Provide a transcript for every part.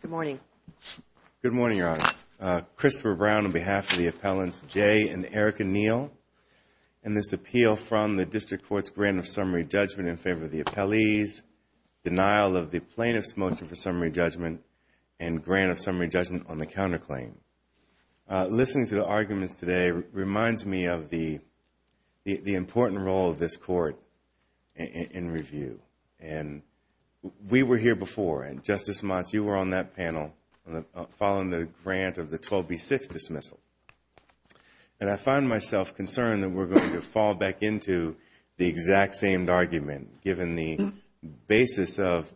Good morning. Good morning, Your Honor. Christopher Brown on behalf of the appellants Jay and Erica Neil in this appeal from the District Court's grant of summary judgment in favor of the appellees, denial of the plaintiff's motion for summary judgment, and grant of summary judgment on the counterclaim. Listening to the arguments today reminds me of the important role of this Court in review. And we were here before, and Justice Motz, you were on that panel following the grant of the 12B6 dismissal. And I find myself concerned that we're going to fall back into the exact same argument given the basis of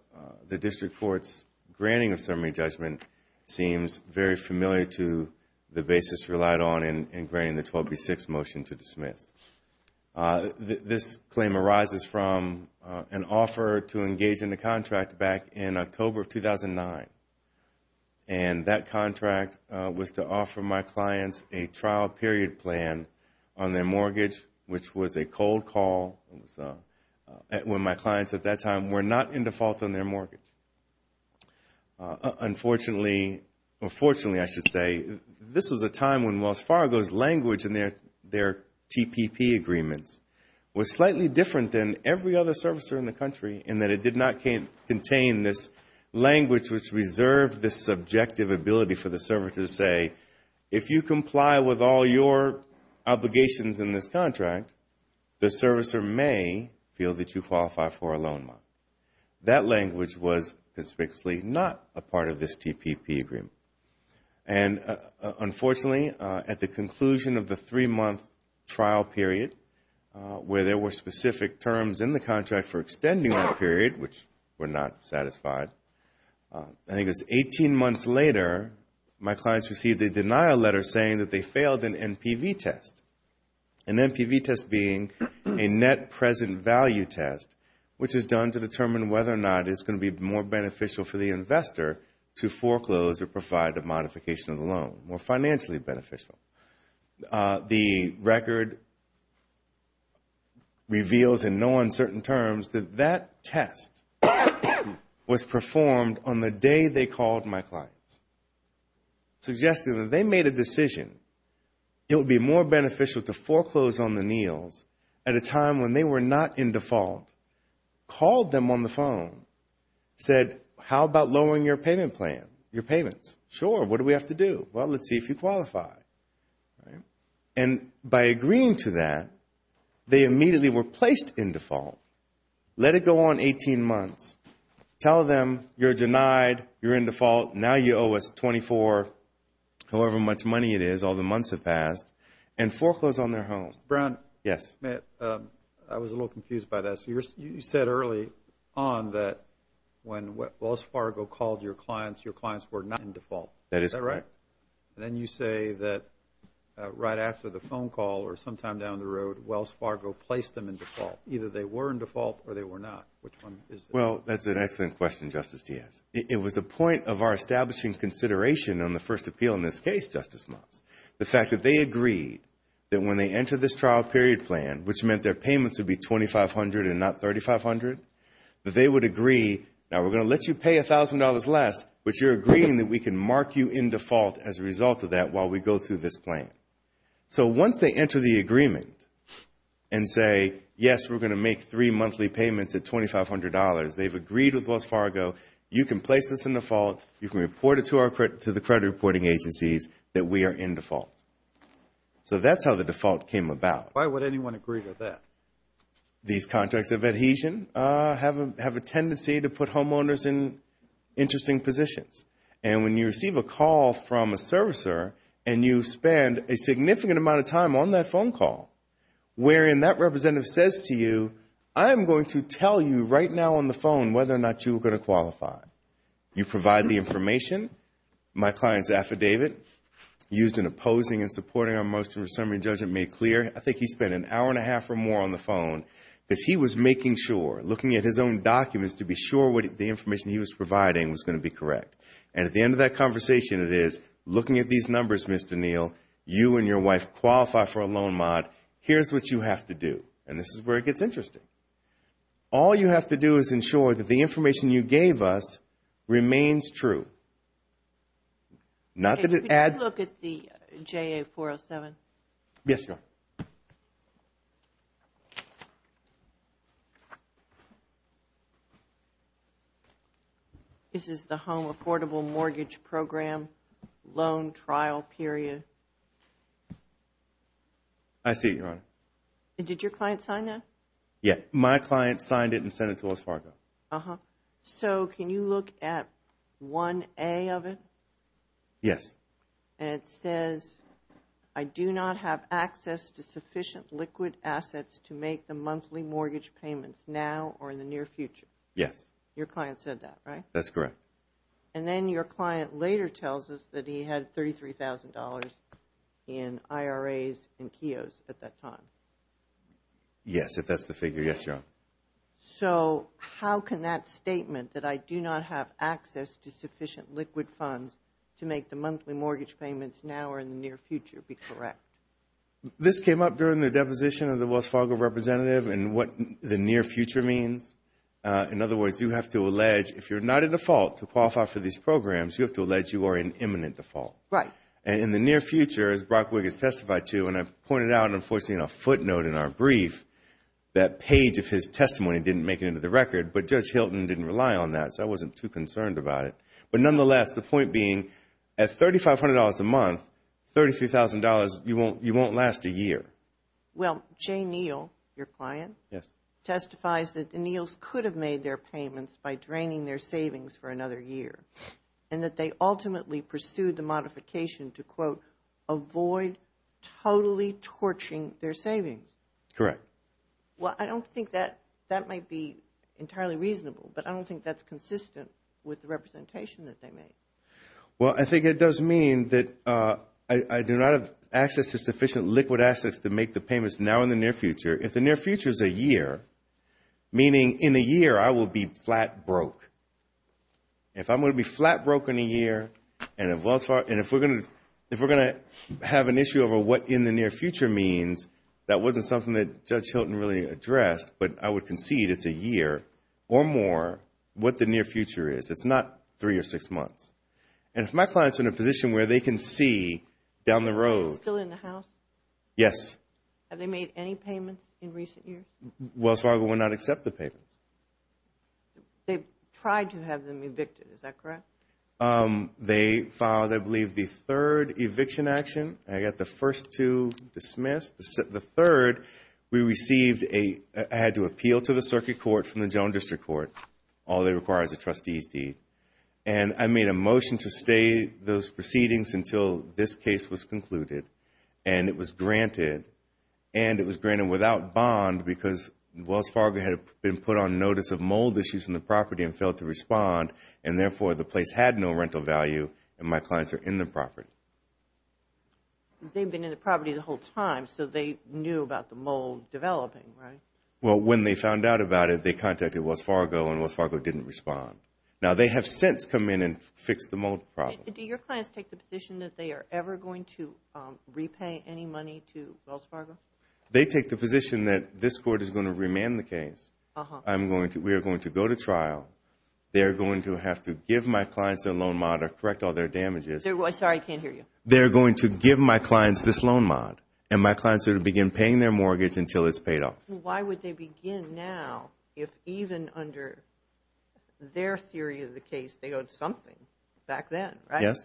the District Court's granting of summary judgment seems very familiar to the basis relied on in granting the 12B6 motion to dismiss. This claim arises from an offer to engage in a contract back in October of 2009. And that contract was to offer my clients a trial period plan on their mortgage, which was a cold call when my clients at that time were not in default on their mortgage. Unfortunately, or fortunately I should say, this was a time when Wells Fargo's language in their TPP agreements was slightly different than every other servicer in the country in that it did not contain this language which reserved this subjective ability for the servicer to say, if you comply with all your obligations in this contract, the servicer may feel that you qualify for a loan. That language was conspicuously not a part of this TPP agreement. And unfortunately, at the conclusion of the three-month trial period where there were specific terms in the contract for extending that period, which were not satisfied, I think it was 18 months later, my clients received a denial letter saying that they failed an NPV test, an NPV test being a net present value test, which is done to determine whether or not it's going to be more beneficial for the investor to foreclose or provide a modification of the loan, more financially beneficial. The record reveals in no uncertain terms that that test was performed on the day they called my clients, suggesting that they made a decision it would be more beneficial to foreclose on at a time when they were not in default, called them on the phone, said, how about lowering your payment plan, your payments? Sure. What do we have to do? Well, let's see if you qualify. And by agreeing to that, they immediately were placed in default. Let it go on 18 months. Tell them you're denied, you're in default, now you owe us 24, however much money it is, all the months have passed, and foreclose on their home. Mr. Brown? Yes. I was a little confused by that. So you said early on that when Wells Fargo called your clients, your clients were not in default. Is that right? That is correct. Then you say that right after the phone call or sometime down the road, Wells Fargo placed them in default. Either they were in default or they were not. Which one is it? Well, that's an excellent question, Justice Diaz. It was the point of our establishing consideration on the first appeal in this case, Justice Trial Period Plan, which meant their payments would be $2,500 and not $3,500. They would agree, now we're going to let you pay $1,000 less, but you're agreeing that we can mark you in default as a result of that while we go through this plan. So once they enter the agreement and say, yes, we're going to make three monthly payments at $2,500, they've agreed with Wells Fargo, you can place us in default, you can report So that's how the default came about. Why would anyone agree to that? These contracts of adhesion have a tendency to put homeowners in interesting positions. And when you receive a call from a servicer and you spend a significant amount of time on that phone call, wherein that representative says to you, I am going to tell you right now on the phone whether or not you are going to qualify, you provide the information, my opposing and supporting our motion for summary and judgment made clear, I think he spent an hour and a half or more on the phone because he was making sure, looking at his own documents to be sure the information he was providing was going to be correct. And at the end of that conversation it is, looking at these numbers, Mr. Neal, you and your wife qualify for a loan mod, here's what you have to do. And this is where it gets interesting. All you have to do is ensure that the information you gave us remains true. Okay, could you look at the JA-407? Yes, Your Honor. This is the Home Affordable Mortgage Program Loan Trial Period. I see it, Your Honor. And did your client sign that? Yes, my client signed it and sent it to West Fargo. So can you look at 1A of it? Yes. And it says, I do not have access to sufficient liquid assets to make the monthly mortgage payments now or in the near future. Yes. Your client said that, right? That's correct. And then your client later tells us that he had $33,000 in IRAs and KIOs at that time. Yes, if that's the figure, yes, Your Honor. So how can that statement that I do not have access to sufficient liquid funds to make the monthly mortgage payments now or in the near future be correct? This came up during the deposition of the West Fargo representative and what the near future means. In other words, you have to allege, if you're not a default to qualify for these programs, you have to allege you are an imminent default. Right. In the near future, as Brock Wiggins testified to, and I pointed out, unfortunately, in a footnote in our brief, that page of his testimony didn't make it into the record, but Judge Hilton didn't rely on that, so I wasn't too concerned about it. But nonetheless, the point being, at $3,500 a month, $33,000, you won't last a year. Well, Jay Neal, your client, testifies that the Neals could have made their payments by draining their savings for another year and that they ultimately pursued the modification to, quote, avoid totally torching their savings. Correct. Well, I don't think that that might be entirely reasonable, but I don't think that's consistent with the representation that they made. Well, I think it does mean that I do not have access to sufficient liquid assets to make the payments now or in the near future. If the near future is a year, meaning in a year I will be flat broke, if I'm going to be flat broke in a year and if we're going to have an issue over what in the near future means, that wasn't something that Judge Hilton really addressed, but I would concede it's a year or more, what the near future is. It's not three or six months. And if my client's in a position where they can see down the road... Still in the house? Yes. Have they made any payments in recent years? Wells Fargo will not accept the payments. They've tried to have them evicted, is that correct? They filed, I believe, the third eviction action. I got the first two dismissed. The third, we received a... I had to appeal to the circuit court from the general district court. All they require is a trustee's deed. And I made a motion to stay those proceedings until this case was concluded. And it was granted. And it was granted without bond because Wells Fargo had been put on notice of mold issues in the property and failed to respond and therefore the place had no rental value and my clients are in the property. They've been in the property the whole time, so they knew about the mold developing, right? Well, when they found out about it, they contacted Wells Fargo and Wells Fargo didn't respond. Now, they have since come in and fixed the mold problem. Do your clients take the position that they are ever going to repay any money to Wells Fargo? They take the position that this court is going to remand the case. We are going to go to trial. They are going to have to give my clients their loan mod or correct all their damages. Sorry, I can't hear you. They are going to give my clients this loan mod. And my clients are going to begin paying their mortgage until it's paid off. Why would they begin now if even under their theory of the case, they owed something back then, right? Yes.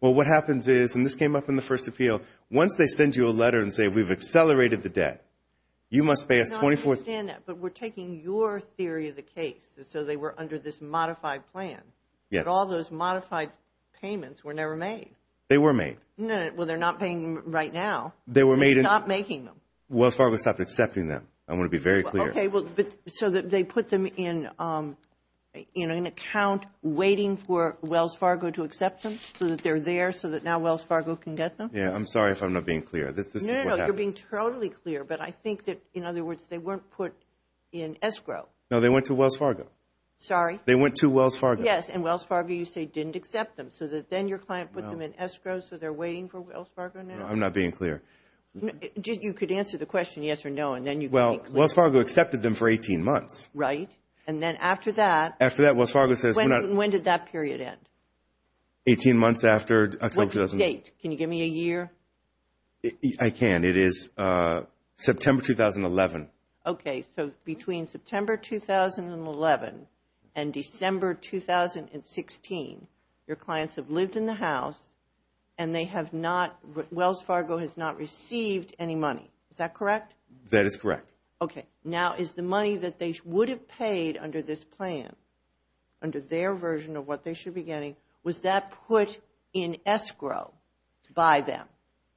Well, what happens is, and this came up in the first appeal, once they send you a letter and say, we've accelerated the debt, you must pay us $24,000. I understand that, but we're taking your theory of the case, so they were under this modified plan. Yes. But all those modified payments were never made. They were made. Well, they're not paying them right now. They were made in... They stopped making them. Wells Fargo stopped accepting them. I want to be very clear. Okay, so they put them in an account waiting for Wells Fargo to accept them, so that they're there, so that now Wells Fargo can get them? Yeah, I'm sorry if I'm not being clear. No, no, no, you're being totally clear. But I think that, in other words, they weren't put in escrow. No, they went to Wells Fargo. Sorry? They went to Wells Fargo. Yes, and Wells Fargo, you say, didn't accept them. So then your client put them in escrow, so they're waiting for Wells Fargo now? I'm not being clear. You could answer the question yes or no, and then you could be clear. Well, Wells Fargo accepted them for 18 months. Right. And then after that... After that, Wells Fargo says... When did that period end? 18 months after October 2011. What's the date? Can you give me a year? I can. It is September 2011. Okay, so between September 2011 and December 2016, your clients have lived in the house and they have not... Wells Fargo has not received any money. Is that correct? That is correct. Okay. Now, is the money that they would have paid under this plan, under their version of what they should be getting, was that put in escrow by them?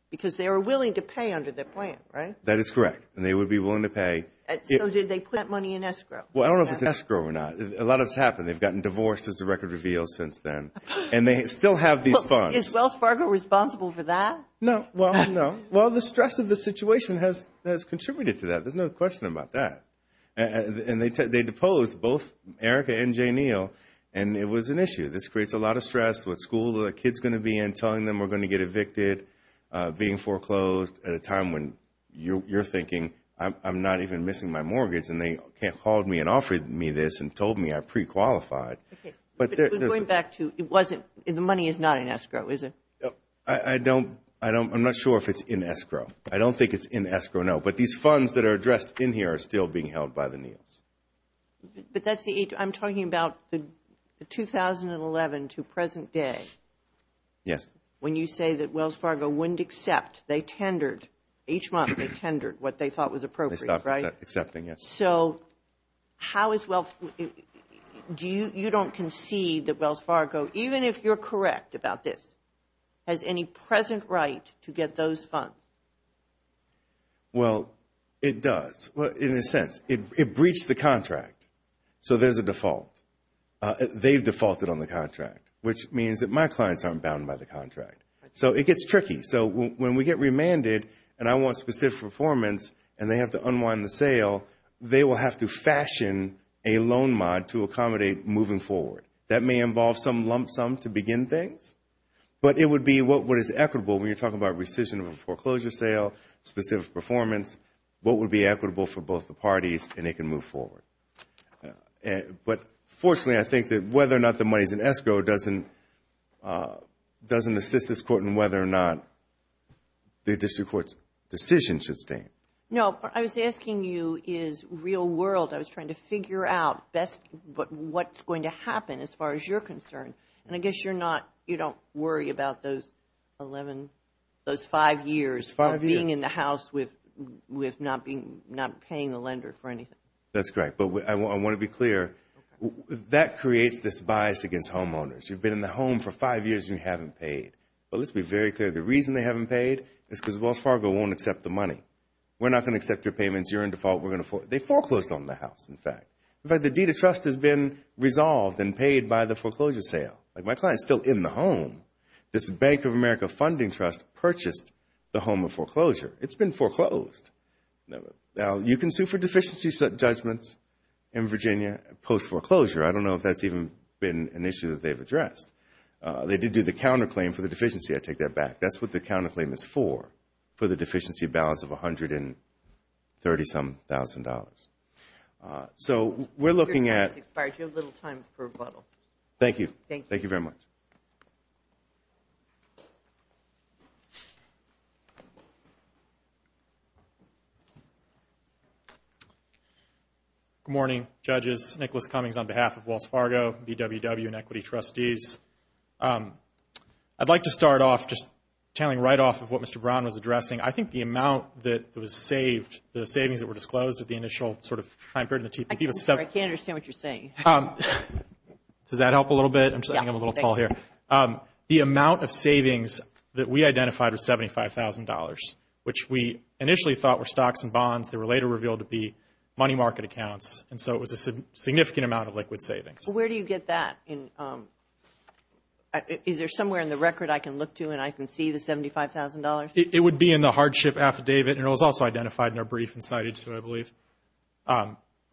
Because they were willing to pay under the plan, right? That is correct. And they would be willing to pay... So did they put that money in escrow? Well, I don't know if it's escrow or not. A lot has happened. They've gotten divorced, as the record reveals, since then. And they still have these funds. Is Wells Fargo responsible for that? No. Well, no. Well, the stress of the situation has contributed to that. There's no question about that. And they deposed both Erica and Jay Neal, and it was an issue. This creates a lot of stress with school the kid's going to be in, telling them we're going to get evicted, being foreclosed at a time when you're thinking, I'm not even missing my mortgage. And they called me and offered me this and told me I pre-qualified. Okay. But going back to... It wasn't... The money is not in escrow, is it? I don't... I'm not sure if it's in escrow. I don't think it's in escrow, no. But these funds that are addressed in here are still being held by the Neals. But that's the... I'm talking about the 2011 to present day. Yes. When you say that Wells Fargo wouldn't accept, they tendered each month, they tendered what they thought was appropriate, right? They stopped accepting it. So how is Wells... Do you... You don't concede that Wells Fargo, even if you're correct about this, has any present right to get those funds? Well, it does. In a sense, it breached the contract. So there's a default. They've defaulted on the contract, which means that my clients aren't bound by the contract. So it gets tricky. So when we get remanded and I want specific performance and they have to unwind the sale, they will have to fashion a loan mod to accommodate moving forward. That may involve some lump sum to begin things, but it would be what is equitable when you're talking about rescission of a foreclosure sale, specific performance, what would be equitable for both the parties and they can move forward. But fortunately, I think that whether or not the money is in escrow doesn't assist this court in whether or not the district court's decision should stand. No, what I was asking you is real world. I was trying to figure out what's going to happen as far as you're concerned. And I guess you're not... You don't worry about those five years of being in the house with not paying the lender for anything. That's correct. But I want to be clear. That creates this bias against homeowners. You've been in the home for five years and you haven't paid. But let's be very clear. The reason they haven't paid is because Wells Fargo won't accept the money. We're not going to accept your payments. You're in default. They foreclosed on the house, in fact. In fact, the deed of trust has been resolved and paid by the foreclosure sale. My client's still in the home. This Bank of America Funding Trust purchased the home of foreclosure. It's been foreclosed. Now, you can sue for deficiency judgments in Virginia post-foreclosure. I don't know if that's even been an issue that they've addressed. They did do the counterclaim for the deficiency. I take that back. That's what the counterclaim is for, for the deficiency balance of $130,000. So we're looking at... Your time has expired. You have a little time for rebuttal. Thank you. Thank you very much. Good morning, judges. Nicholas Cummings on behalf of Wells Fargo, BWW, and Equity Trustees. I'd like to start off just tailing right off of what Mr. Brown was addressing. I think the amount that was saved, the savings that were disclosed at the initial sort of time period in the TPP was... I can't understand what you're saying. Does that help a little bit? I'm just getting a little tall here. The amount of savings that we identified was $75,000, which we initially thought were stocks and bonds that were later revealed to be money market accounts. And so it was a significant amount of liquid savings. Where do you get that? Is there somewhere in the record I can look to and I can see the $75,000? It would be in the hardship affidavit, and it was also identified in our brief and cited, so I believe.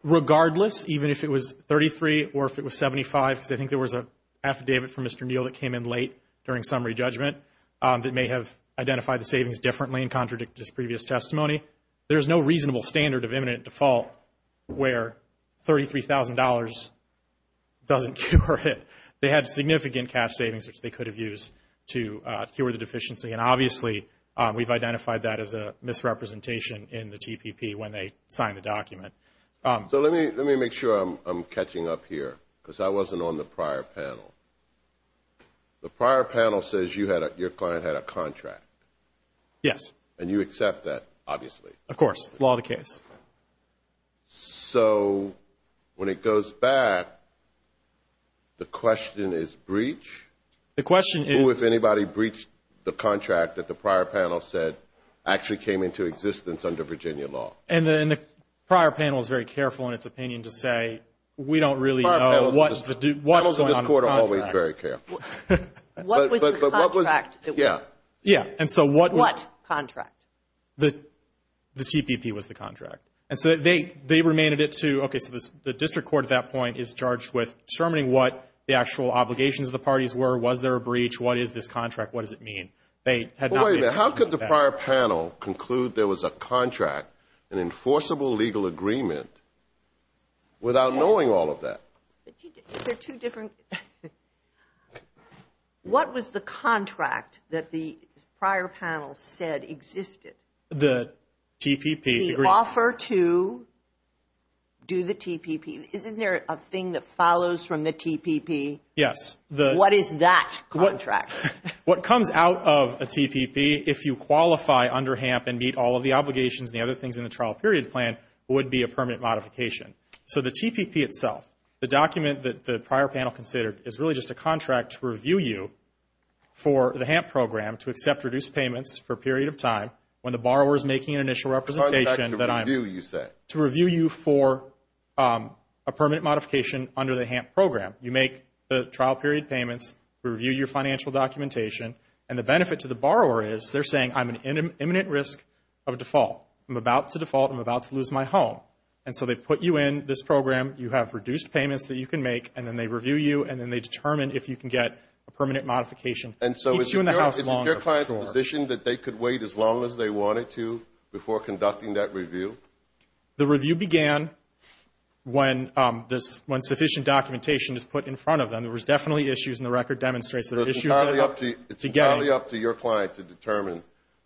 Regardless, even if it was $33,000 or if it was $75,000, because I think there was an affidavit from Mr. Neal that came in late during summary judgment that may have identified the savings differently and contradict his previous testimony, there's no reasonable standard of imminent default where $33,000 doesn't cure it. They had significant cash savings, which they could have used to cure the deficiency. And obviously, we've identified that as a misrepresentation in the TPP when they signed the document. So let me make sure I'm catching up here, because I wasn't on the prior panel. The prior panel says your client had a contract. Yes. And you accept that, obviously. Of course. It's law of the case. So when it goes back, the question is breach? The question is... Who, if anybody, breached the contract that the prior panel said actually came into existence under Virginia law? And the prior panel is very careful in its opinion to say, we don't really know what's going on with the contract. The panels in this court are always very careful. What was the contract? Yeah. Yeah, and so what... What contract? The TPP was the contract. And so they remained a bit too... Okay, so the district court at that point is charged with determining what the actual obligations of the parties were. Was there a breach? What is this contract? What does it mean? Wait a minute. How could the prior panel conclude there was a contract, an enforceable legal agreement, without knowing all of that? They're two different... What was the contract that the prior panel said existed? The TPP. The offer to do the TPP. Isn't there a thing that follows from the TPP? Yes. What is that contract? What comes out of a TPP, if you qualify under HAMP and meet all of the obligations and the other things in the trial period plan, would be a permanent modification. So the TPP itself, the document that the prior panel considered, is really just a contract to review you for the HAMP program to accept reduced payments for a period of time when the borrower is making an initial representation that I'm... To review, you said. To review you for a permanent modification under the HAMP program. You make the trial period payments, review your financial documentation, and the benefit to the borrower is, they're saying, I'm at imminent risk of default. I'm about to default. I'm about to lose my home. And so they put you in this program. You have reduced payments that you can make, and then they review you, and then they determine if you can get a permanent modification. It keeps you in the house longer. And so is your client's position that they could wait as long as they wanted to before conducting that review? The review began when sufficient documentation is put in front of them. There was definitely issues, and the record demonstrates there were issues that... It's entirely up to your client to determine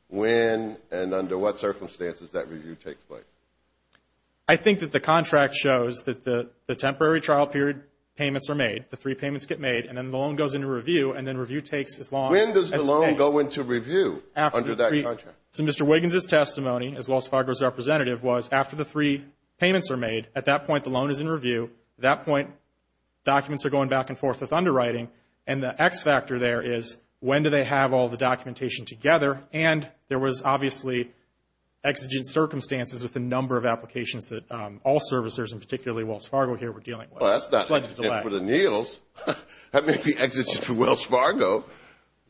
when and under what circumstances that review takes place. I think that the contract shows that the temporary trial period payments are made, the three payments get made, and then the loan goes into review, and then review takes as long... When does the loan go into review under that contract? So Mr. Wiggins' testimony, as Wells Fargo's representative, was after the three payments are made, at that point, the loan is in review. At that point, documents are going back and forth with underwriting. And the X factor there is, when do they have all the documentation together? And there was obviously exigent circumstances with the number of applications that all servicers, and particularly Wells Fargo here, were dealing with. Well, that's not exigent for the Neals. That may be exigent for Wells Fargo.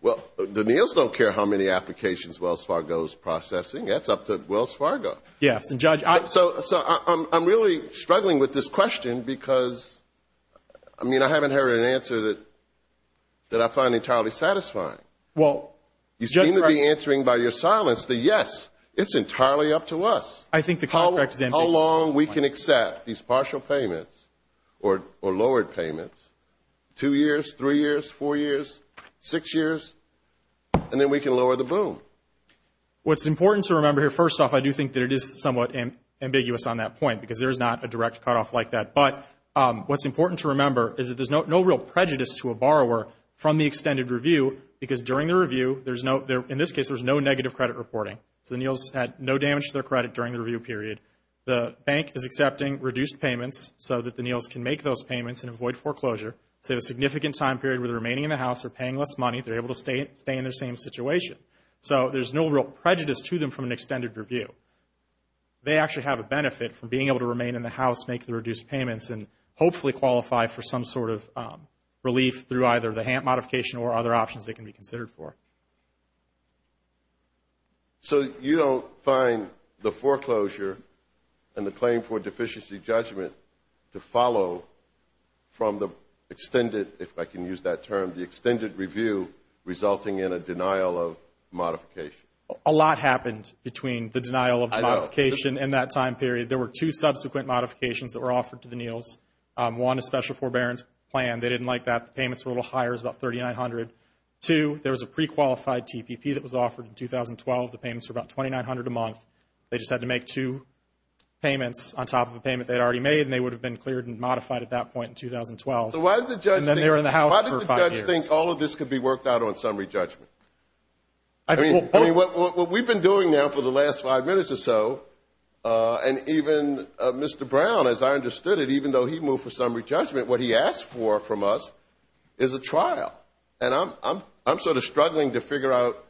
Well, the Neals don't care how many applications Wells Fargo's processing. That's up to Wells Fargo. Yes, and Judge... So, I'm really struggling with this question because, I mean, I haven't heard an answer that I find entirely satisfying. Well... You seem to be answering by your silence the yes. It's entirely up to us. I think the contract is... How long we can accept these partial payments or lowered payments, two years, three years, four years, six years, and then we can lower the boom. What's important to remember here, first off, I do think that it is somewhat ambiguous on that point because there's not a direct cutoff like that. But what's important to remember is that there's no real prejudice to a borrower from the extended review because during the review, there's no, in this case, there's no negative credit reporting. So, the Neals had no damage to their credit during the review period. The bank is accepting reduced payments so that the Neals can make those payments and avoid foreclosure to a significant time period where they're remaining in the house, they're paying less money, they're able to stay in their same situation. So, there's no real prejudice to them from an extended review. They actually have a benefit from being able to remain in the house, make the reduced payments, and hopefully qualify for some sort of relief through either the HAMP modification or other options they can be considered for. So, you don't find the foreclosure and the claim for deficiency judgment to follow from the extended, if I can use that term, the extended review resulting in a denial of modification. A lot happened between the denial of modification and that time period. There were two subsequent modifications that were offered to the Neals. One, a special forbearance plan. They didn't like that. The payments were a little higher. It was about $3,900. Two, there was a pre-qualified TPP that was offered in 2012. The payments were about $2,900 a month. They just had to make two payments on top of a payment they had already made, and they would have been cleared and modified at that point in 2012. And then they were in the house for five years. Why did the judge think all of this could be worked out on summary judgment? I mean, what we've been doing now for the last five minutes or so, and even Mr. Brown, as I understood it, even though he moved for summary judgment, what he asked for from us is a trial. And I'm sort of struggling to figure out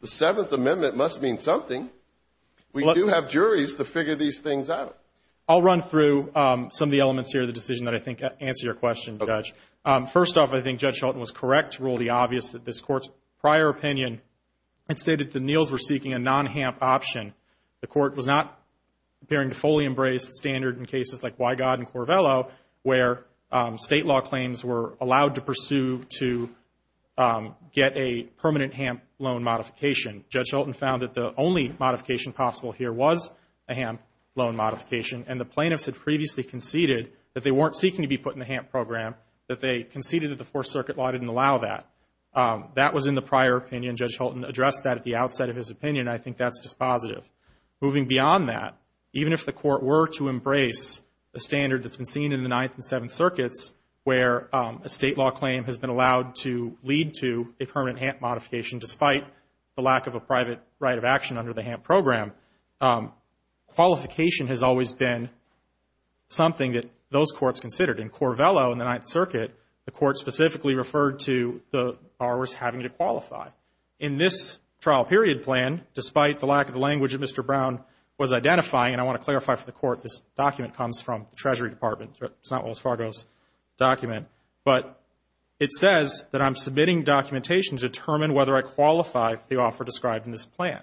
the Seventh Amendment must mean something. We do have juries to figure these things out. I'll run through some of the elements here of the decision that I think answer your question, Judge. First off, I think Judge Shelton was correct to rule it obvious that this Court's prior opinion had stated the Neals were seeking a non-HAMP option. The Court was not appearing to fully embrace the standard in cases like Wygod and Corvello, where state law claims were allowed to pursue to get a permanent HAMP loan modification. Judge Shelton found that the only modification possible here was a HAMP loan modification, and the plaintiffs had previously conceded that they weren't seeking to be put in the HAMP program, that they conceded that the Fourth Circuit law didn't allow that. That was in the prior opinion. Judge Shelton addressed that at the outset of his opinion. I think that's dispositive. Moving beyond that, even if the Court were to embrace the standard that's been seen in the Ninth and Seventh Circuits, where a state law claim has been allowed to lead to a permanent HAMP modification, despite the lack of a private right of action under the HAMP program, qualification has always been something that those courts considered. In Corvello, in the Ninth Circuit, the Court specifically referred to the borrowers having to qualify. In this trial period plan, despite the lack of language that Mr. Brown was identifying, and I want to clarify for the Court this document comes from the Treasury Department, it's not Wells Fargo's document, but it says that I'm submitting documentation to determine whether I qualify for the offer described in this plan.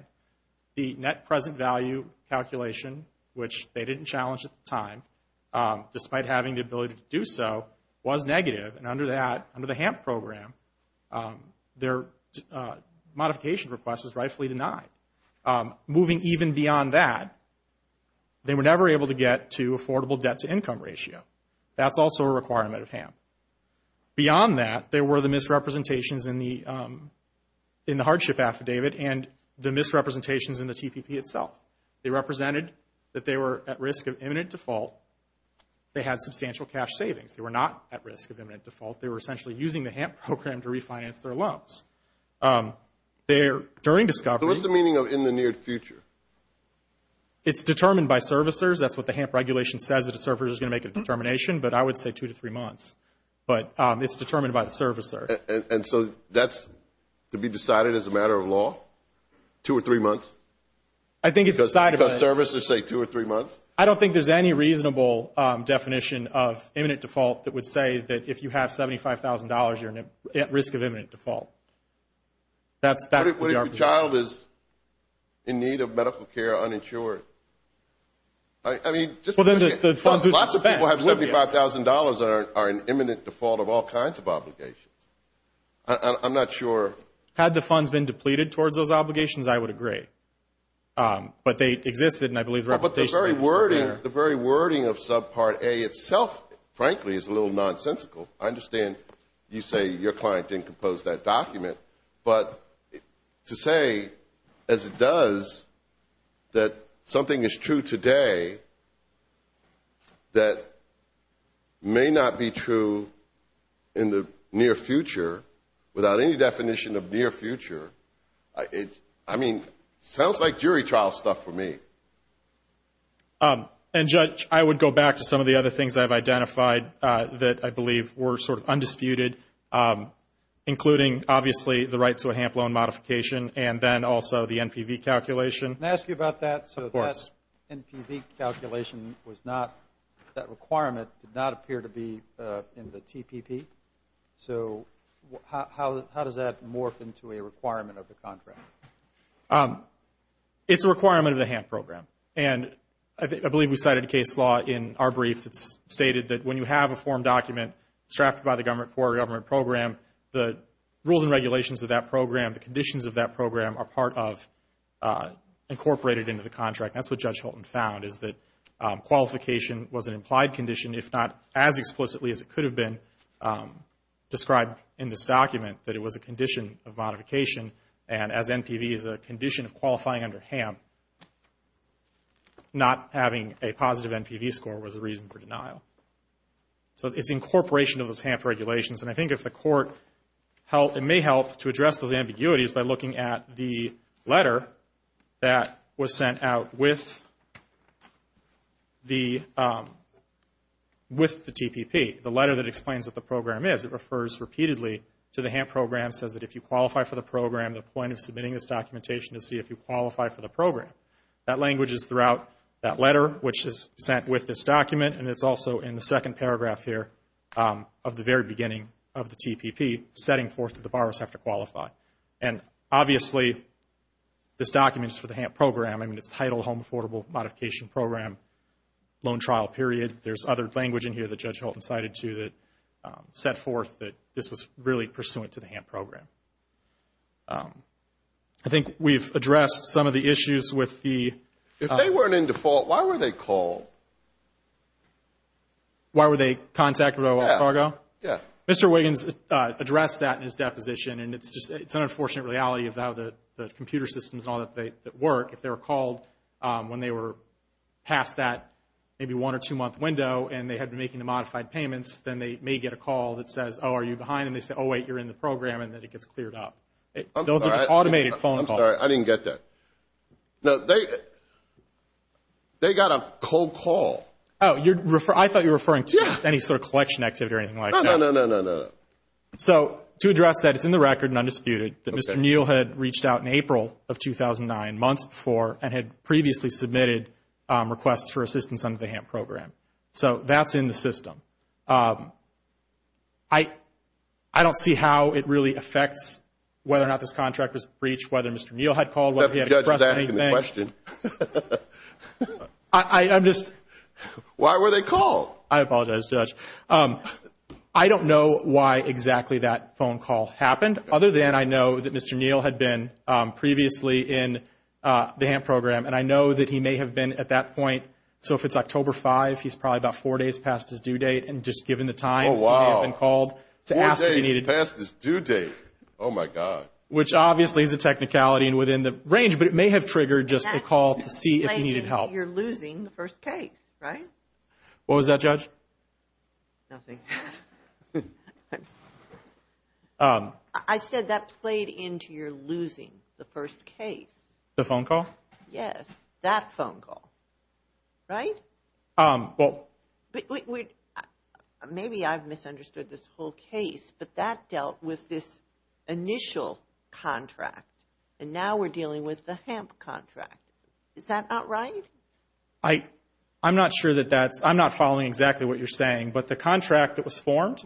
The net present value calculation, which they didn't challenge at the time, despite having the ability to do so, was negative, and under that, under the HAMP program, their modification request was rightfully denied. Moving even beyond that, they were never able to get to affordable debt-to-income ratio. That's also a requirement of HAMP. Beyond that, there were the misrepresentations in the hardship affidavit and the misrepresentations in the TPP itself. They represented that they were at risk of imminent default. They had substantial cash savings. They were not at risk of imminent default. They were essentially using the HAMP program to refinance their loans. During discovery... So what's the meaning of in the near future? It's determined by servicers. That's what the HAMP regulation says, that a servicer is going to make a determination, but I would say two to three months. But it's determined by the servicer. And so that's to be decided as a matter of law? Two or three months? I think it's decided... Because servicers say two or three months? I don't think there's any reasonable definition of imminent default that would say that if you have $75,000, you're at risk of imminent default. What if your child is in need of medical care, uninsured? I mean... Lots of people have $75,000 that are an imminent default of all kinds of obligations. I'm not sure... Had the funds been depleted towards those obligations, I would agree. But they existed, and I believe... But the very wording of Subpart A itself, frankly, is a little nonsensical. I understand you say your client didn't compose that document. But to say, as it does, that something is true today that may not be true in the near future, without any definition of near future, I mean, sounds like jury trial stuff for me. And Judge, I would go back to some of the other things I've identified that I believe were sort of undisputed, including, obviously, the right to a HAMP loan modification, and then also the NPV calculation. Can I ask you about that? Of course. NPV calculation was not... That requirement did not appear to be in the TPP. So how does that morph into a requirement of the contract? It's a requirement of the HAMP program. And I believe we cited a case law in our brief that's stated that when you have a form document strapped by the government for a government program, the rules and regulations of that program, the conditions of that program, are part of, incorporated into the contract. That's what Judge Holton found, is that qualification was an implied condition if not as explicitly as it could have been described in this document, that it was a condition of modification. And as NPV is a condition of qualifying under HAMP, not having a positive NPV score was a reason for denial. So it's incorporation of those HAMP regulations. And I think if the court may help to address those ambiguities by looking at the letter that was sent out with the TPP, the letter that explains what the program is. It refers repeatedly to the HAMP program, says that if you qualify for the program, the point of submitting this documentation is to see if you qualify for the program. That language is throughout that letter, which is sent with this document. And it's also in the second paragraph here of the very beginning of the TPP, setting forth that the borrowers have to qualify. And obviously, this document is for the HAMP program. I mean, it's titled Home Affordable Modification Program Loan Trial Period. There's other language in here that Judge Holton cited to that set forth that this was really pursuant to the HAMP program. I think we've addressed some of the issues with the... If they weren't in default, why were they called? Why were they contacted by Wells Fargo? Yeah. Mr. Wiggins addressed that in his deposition. And it's just... It's an unfortunate reality of how the computer systems and all that work. If they were called when they were past that maybe one- or two-month window and they had been making the modified payments, then they may get a call that says, oh, are you behind? And they say, oh, wait, you're in the program and then it gets cleared up. Those are just automated phone calls. I'm sorry. I didn't get that. No, they... They got a cold call. Oh, I thought you were referring to any sort of collection activity or anything like that. No, no, no, no, no. So, to address that, it's in the record and undisputed that Mr. Neal had reached out in April of 2009, months before, and had previously submitted requests for assistance under the HAMP program. So, that's in the system. I don't see how it really affects whether or not this contract was breached, whether Mr. Neal had called, whether he had expressed anything. Why were they called? I apologize, Judge. I don't know why exactly that phone call happened. I don't know why that phone call happened. I don't know why that phone call happened, other than I know that Mr. Neal had been previously in the HAMP program, and I know that he may have been at that point. So, if it's October 5, he's probably about four days past his due date and just given the time so he may have been called to ask if he needed... Oh, wow. Four days past his due date. Oh, my God. Which obviously is a technicality and within the range, but it may have triggered just a call to see if he needed help. You're losing the first case, right? What was that, Judge? Nothing. I said that played into your losing the first case. The phone call? Yes. That phone call. Right? Well... Maybe I've misunderstood this whole case, but that dealt with this initial contract, and now we're dealing with the HAMP contract. Is that not right? I'm not sure that that's... was sent immediately after the phone call. So, I'm not sure that that's exactly what you're saying, but the contract that was formed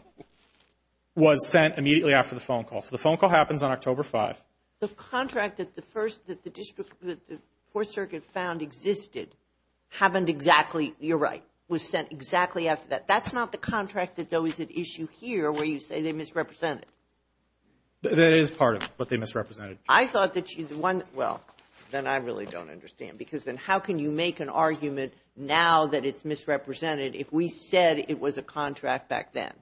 was sent immediately after the phone call. So, the phone call happens on October 5th. The contract that the First... that the District... that the Fourth Circuit found existed happened exactly... you're right, was sent exactly after that. That's not the contract that, though, is at issue here where you say they misrepresented. That is part of what they misrepresented. I thought that you... the one... well, then I really don't understand because then how can you make an argument now that it's misrepresented if we said it was a contract back then?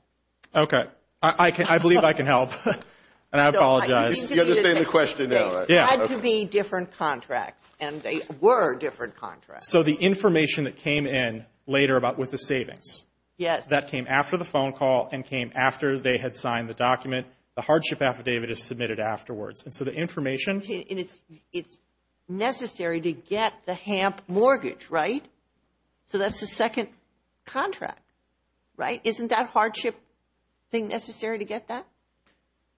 Okay. I believe I can help. And I apologize. You understand the question now. Yeah. It had to be different contracts and they were different contracts. So, the information that came in later about with the savings. Yes. That came after the phone call and came after they had signed the document. The hardship affidavit is submitted afterwards. And so, the information... And it's... it's necessary to get the HAMP mortgage, right? So, that's the second contract, right? Isn't that hardship thing necessary to get that?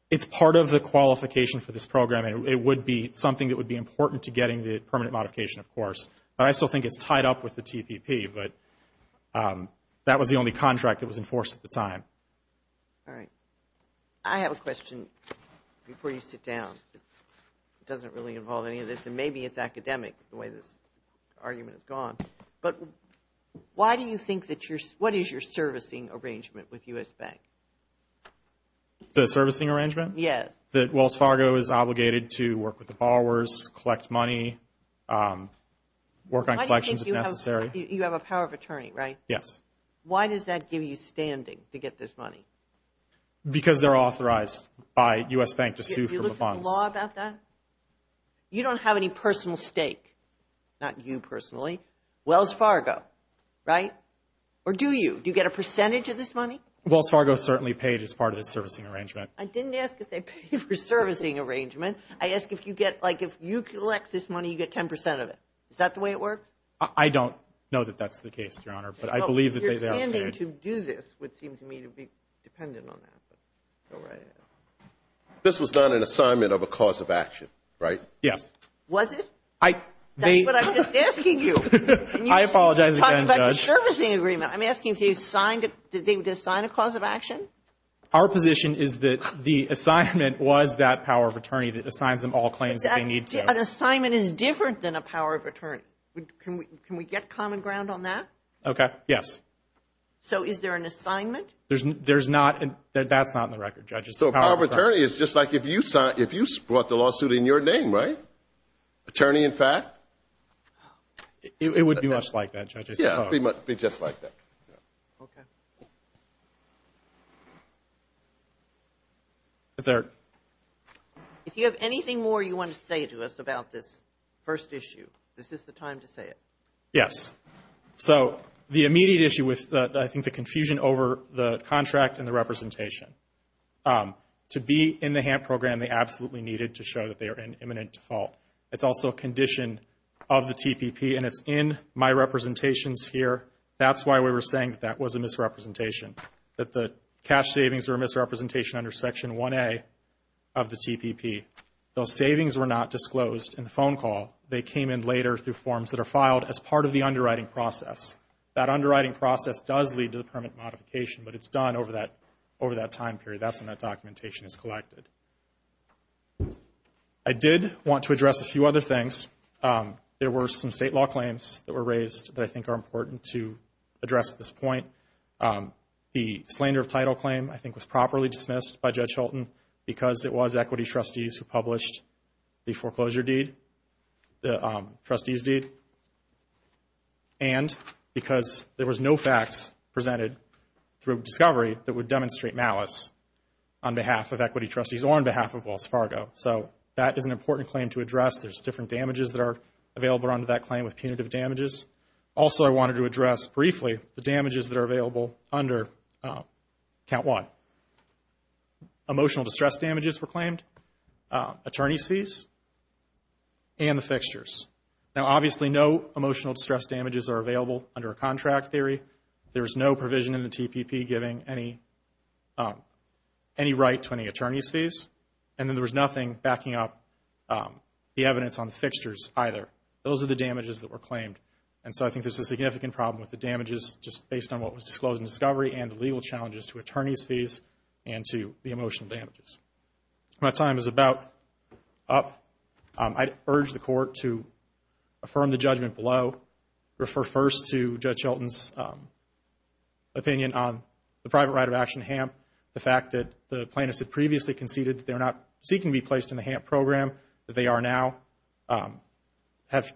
It's part of the qualification for this program and it would be something that would be important to getting the permanent modification, of course. But I still think it's tied up with the TPP, but that was the only contract that was enforced at the time. All right. I have a question before you sit down. It doesn't really involve any of this and maybe it's academic the way this argument is gone. But why do you think that you're... what is your servicing arrangement with U.S. Bank? The servicing arrangement? Yes. That Wells Fargo is obligated to work with the borrowers, collect money, work on collections if necessary? You have a power of attorney, right? Yes. Why does that give you standing to get this money? Because they're authorized by U.S. Bank to sue for the funds. Did you look at the law about that? You don't have any personal stake, not you personally. Wells Fargo, right? Or do you? Do you get a percentage of this money? Wells Fargo certainly paid as part of the servicing arrangement. I didn't ask if they paid for servicing arrangement. I ask if you get, like if you collect this money, you get 10% of it. Is that the way it works? I don't know that that's the case, Your Honor, but I believe that they... Your standing to do this would seem to me to be dependent on that. Go right ahead. This was not an assignment of a cause of action, right? Yes. Was it? That's what I'm just asking you. I apologize again, Judge. You're talking about the servicing agreement. I'm asking if you signed it. Did they sign a cause of action? Our position is that the assignment was that power of attorney that assigns them all claims that they need to. An assignment is different than a power of attorney. Can we get common ground on that? Okay, yes. So is there an assignment? There's not. That's not in the record, Judge. So power of attorney is just like if you brought the lawsuit in your name, right? Attorney in fact? It would be much like that, Judge. I suppose. Yes, it would be just like that. Okay. Is there... If you have anything more you want to say to us about this first issue, is this the time to say it? Yes. issue with, I think, the confusion over the contract and the representation, to be in the HAMP program, they absolutely needed to show that they were competent. It's also a condition of the TPP, and it's in my representations here. That's why we were saying that that was a misrepresentation, that the cash savings were a misrepresentation under Section 1A of the TPP. Those savings were not disclosed in the phone call. They came in later through forms that are filed as part of the underwriting process. That underwriting process does lead to the permit modification, but it's done over that time period. That's when that documentation is submitted. I did want to address a few other things. There were some state law claims that were raised that I think are important to address at this point. The slander of title claim, I think, was properly dismissed by Judge Hultin because it was equity trustees who published the foreclosure deed, the trustees deed, and because there was no facts presented through discovery that would demonstrate malice on behalf of equity trustees or on behalf of Wells Fargo. So that is an important claim to address. There's different damages that are available under that claim with punitive damages. Also, I wanted to address briefly the damages that are available under Count 1. Emotional distress damages were claimed, attorney's fees, and the fixtures. Now, obviously, no emotional distress damages are available under a contract theory. There is no provision in the TPP giving any right to any attorney's fees. And then there was nothing under the TPP. There was nothing backing up the evidence on the fixtures either. Those are the damages that were claimed. And so I think there's a significant problem with the damages just based on what was disclosed in discovery and the legal challenges to attorney's fees and to the emotional damages. My time is about up. I urge the court to affirm the judgment below, refer first to Judge Shelton's opinion on the private right of action, HAMP, the fact that the plaintiffs had previously conceded that they're not seeking to be placed in the HAMP program, that they are now, the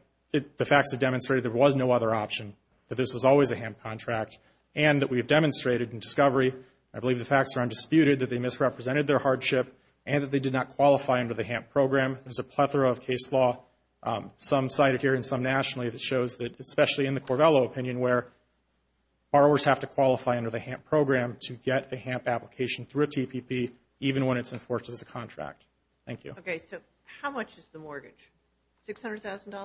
facts have demonstrated there was no other option, that this was always a HAMP contract, and that we have demonstrated in discovery, I believe the facts are undisputed, that they misrepresented their hardship and that they did not qualify under the HAMP program. There's a plethora of case law, some cited here and some nationally, that shows that especially in the case of the HAMP program, that the plaintiff is not seeking to be placed in the HAMP private right of plaintiffs had previously conceded that they're not seeking to be placed in the HAMP program, that they did not qualify under the HAMP program. I urge the court to affirm the judgment below, and to It's not a one-time trial, it's not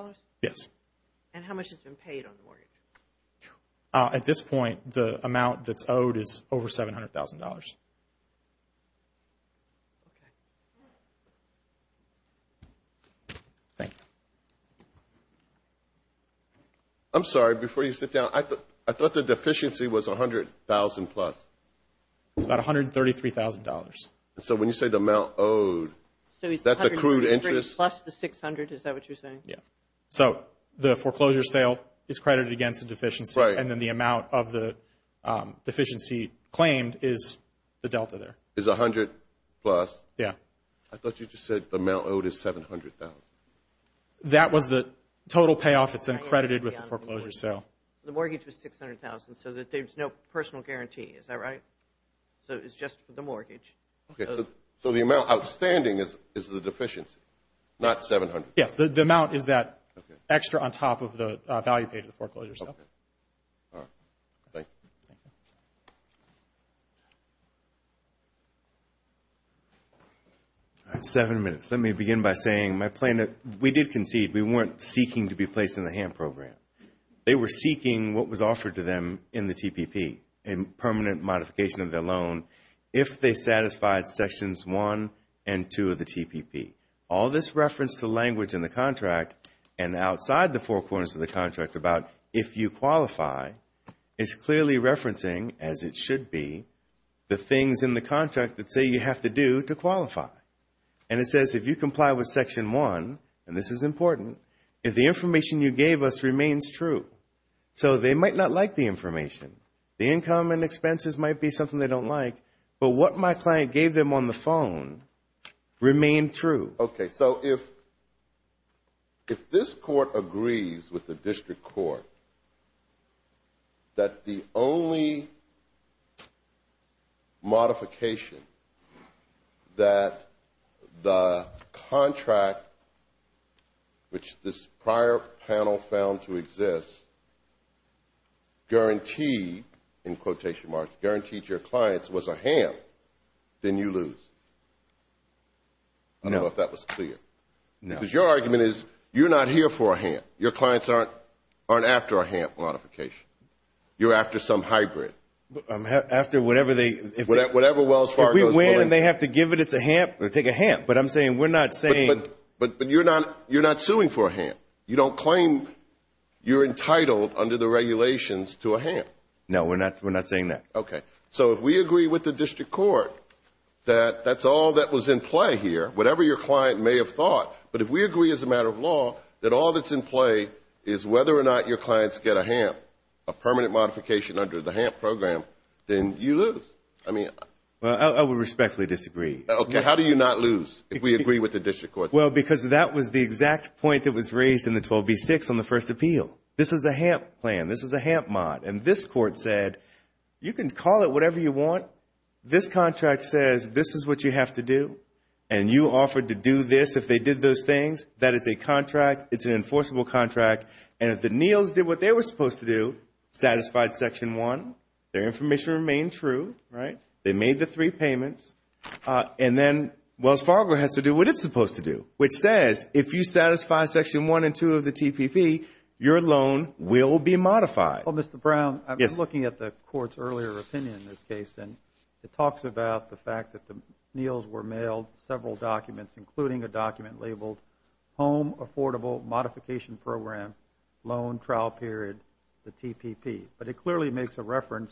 a one-time incident. It's a one-time incident, and it's not a one-time incident but not a one-time event. one-time incident but it's not a one-time incident but it's a one-time incident event but it's not but it's a one-time event but it's not a one-time incident but it's a one-time event but it's a one-time incident but income and expenses might be something they don't like but what my client gave them on the phone remained true. Okay, so if if this court agrees with the district court that the only modification that the contract which this prior panel found to exist guaranteed in quotation marks, guaranteed your clients was a ham then you lose. I don't know if that was clear. Because your argument is you're not here for a ham. Your clients aren't aren't after a ham modification. You're after some hybrid. I'm after whatever they whatever Wells Fargo If we win and they have to give it, it's a ham, we'll take a ham. But I'm saying we're not saying but you're not, you're not suing for a ham. You don't claim you're entitled under the regulations to a ham. No, we're not, we're not saying that. Okay. So if we agree with the district court that that's all that was in play here, whatever your client may have thought but if we agree as a matter of law that all that's in play is whether or not your clients get a ham a permanent modification under the ham program then you lose. I mean Well, I would respectfully disagree. Okay, how do you not lose if we agree with the district court? Well, because that was the exact point that was raised in the 12B-6 on the first appeal. This is a ham plan, this is a ham mod and this court said you can call it whatever you want this contract says this is what you have to do and you offered to do this if they did those things that is a contract, it's an enforceable contract and if the Neals did what they were supposed to do satisfied Section 1 their information remained true, right? They made the three payments and then Wells Fargo has to do what it's supposed to do which says if you satisfy Section 1 and 2 of the TPP your loan will be modified. Well, Mr. Brown, I was looking at the court's earlier opinion in this case and it talks about the fact that the Neals were mailed several documents including a document labeled Home Affordable Modification Program Loan Trial Period the TPP but it clearly makes a reference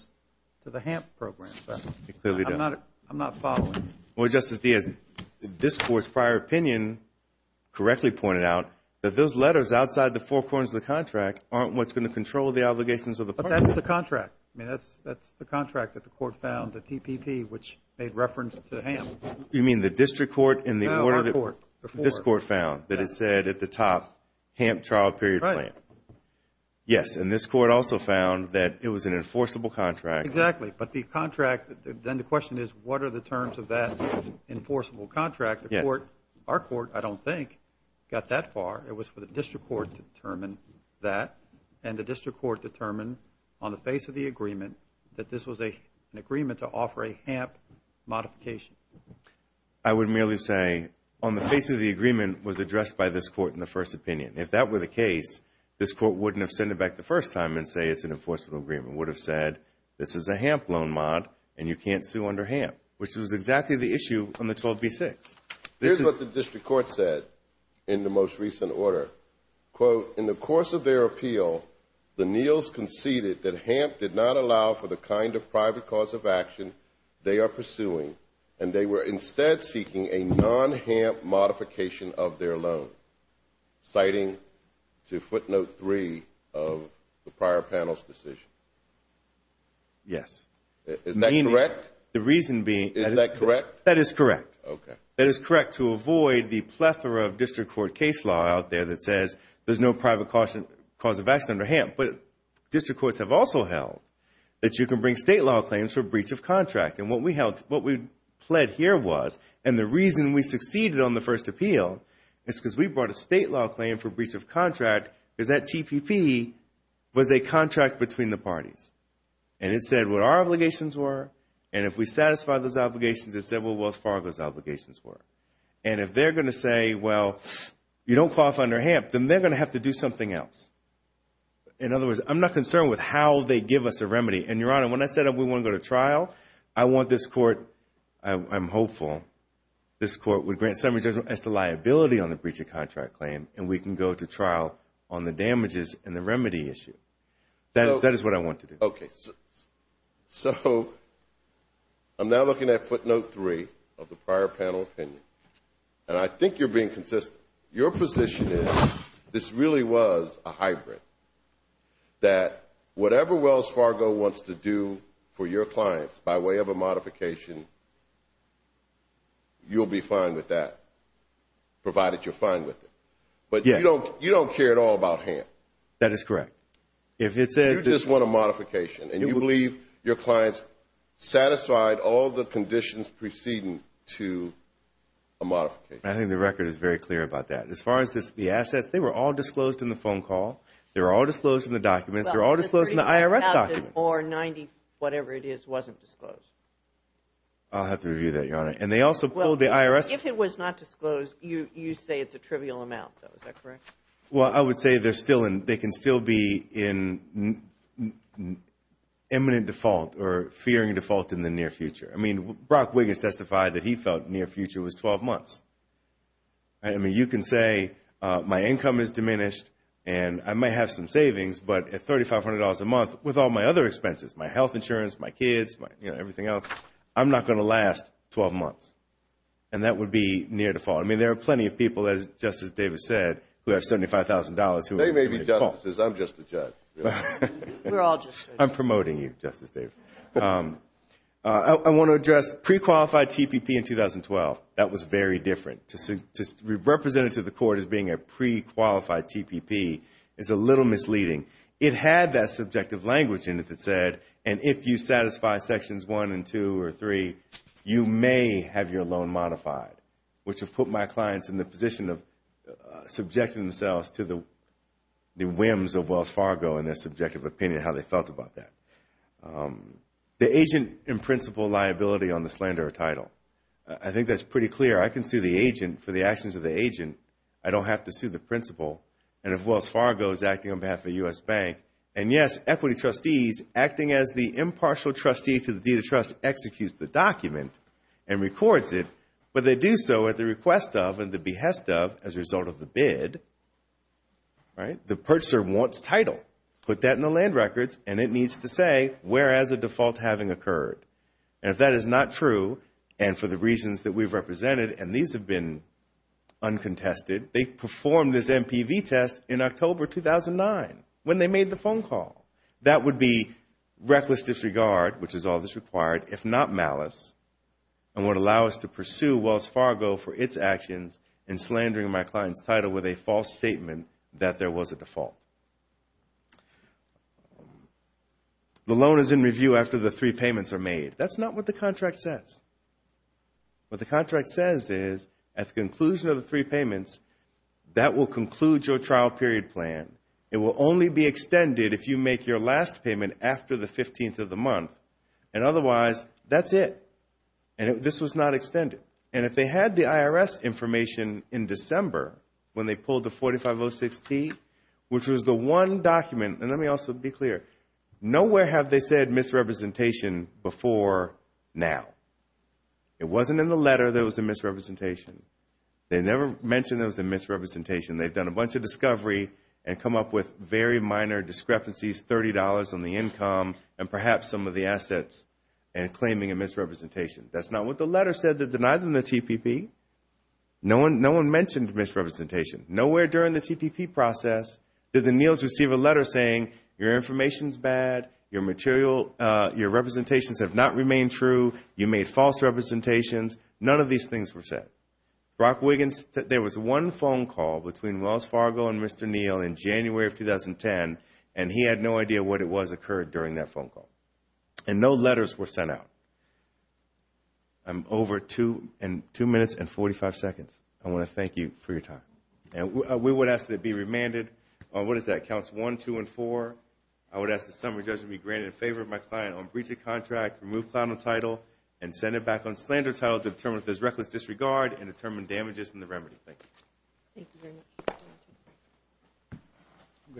to the ham program. I'm not following. Well, Justice Diaz this court's prior opinion correctly pointed out that those letters outside the four corners of the contract aren't what's going to control the obligations of the partner. But that's the contract. That's the contract that the court found the TPP which made reference to ham. You mean the district court in the order that No, our court. this court found that it said at the top ham trial period plan. Yes, and this court also found that it was an enforceable contract. Exactly, but the contract then the question is what are the terms of that enforceable contract. Our court, I don't think got that far. It was for the district court to determine that and the district court determined on the face of the agreement that this was an agreement to offer a ham modification. I would merely say on the face of the agreement was addressed by this court in the first opinion. If that were the case this court wouldn't have sent it back the first time and say it's an enforceable agreement. It would have said this is a ham loan mod and you can't sue under ham which was exactly the issue on the 12B6. Here's what the district court said in the most recent order quote, in the course of their appeal the Neals conceded that ham did not allow for the kind of private cause of action they are pursuing and they were instead seeking a non-ham modification of their loan citing to footnote 3 of the prior panel's decision. Yes. Is that correct? The reason being Is that correct? That is correct. That is correct to avoid the plethora of district court case law out there that says there's no private cause of action under ham. But district courts have also held that you can bring state law claims for breach of contract and what we pled here was and the reason we succeeded on the first appeal is because we brought a state law claim for breach of contract because that TPP was a contract between the parties. And it said what our obligations were and if we satisfy those obligations it said well as far as those obligations were. And if they're going to say well you don't qualify under ham then they're going to have to do something else. In other words I'm not concerned with how they give us a remedy and your honor when I said we want to go to trial I want this court I'm hopeful this court would grant summary judgment as to liability on the breach of contract claim and we can go to trial on the damages and the remedy issue. That is what I want to do. Okay. So I'm now looking at footnote three of the prior panel opinion and I think you're being consistent. Your position is this really was a hybrid that whatever Wells Fargo wants to do for your clients by way of a modification you'll be fine with that provided you're fine with it. But you don't care at all about ham. That is correct. You just want a modification and you believe your clients satisfied all the conditions preceding to a modification. I think the record is very clear about that. As far as the assets they were all disclosed in the phone call. They were all disclosed in the documents. They were all disclosed in the IRS documents. Or 90 whatever it is wasn't disclosed. I'll have to review that your honor. And they also pulled the IRS. If it was not disclosed you say it's a trivial amount though. Is that correct? Well I would say they can still be in imminent default or fearing default in the near future. I mean Brock Wiggins testified that he felt near future was 12 months. I mean you can say my income is diminished and I might have some savings but at $3,500 a month with all my other expenses, my health insurance, my kids, everything else, I'm not going to last 12 months. And that would be near default. I mean there are plenty of people as Justice Davis said who have $75,000. They may be justices. I'm just a judge. I'm promoting you Justice Davis. I want to address pre-qualified TPP in 2012. That was very different. To represent it to the court as being a pre-qualified TPP is a little misleading. It had that subjective language in it that said and if you satisfy sections 1 and 2 or 3, you may have your loan modified. Which has put my clients in the position of subjecting themselves to the whims of Wells Fargo and their subjective opinion of how they felt about that. The agent in principle liability on the slander title. I think that's pretty clear. I can sue the agent for the actions of the agent. I don't have to sue the principal. And if Wells Fargo is acting on behalf of the U.S. Bank and yes, equity trustees acting as the impartial trustee to the Deed of Trust executes the document and records it, but they do so at the request of and the behest of as a result of the bid, the purchaser wants title. Put that in the land records and it needs to say where as a default having occurred. If that is not true and for the reasons that we've represented and these have been uncontested, they performed this MPV test in October 2009 when they made the phone call. That would be reckless disregard, which is all required, if not malice and would allow us to pursue Wells Fargo for its actions in slandering my client's title with a false statement that there was a default. The loan is in review after the three payments are made. That's not what the contract says. What the contract says is at the conclusion of the three payments that will conclude your trial period plan. It will only be extended if you make your last payment after the three payments. Otherwise, that's it. This was not extended. If they had the IRS information in December when they pulled the 4506T, which was the one document, and let me also be clear, nowhere have they said misrepresentation before now. It wasn't in the letter there was a misrepresentation. They never mentioned there was a misrepresentation. They've done a bunch of discovery and come up with very minor discrepancies, $30 on the income and perhaps some of the assets and claiming a misrepresentation. That's not what the letter said to deny them the TPP. No one mentioned misrepresentation. Nowhere during the TPP process did the Neals receive a letter saying your information is bad, your material, your representations have not remained true, you made false representations. None of these things were said. There was one phone call between Wells Fargo and Mr. Neal in January of 2010 and he had no idea what it was occurred during that phone call. And no letters were sent out. I'm over 2 minutes and 45 seconds. I want to thank you for your time. And we would ask to be remanded on, what is that? Counts 1, 2, and 4. I would ask the summary judge to be granted in favor of my client on breach of contract, remove platinum title, and send it back on slander title to determine if there's reckless disregard and determine damages in the remedy. Thank you.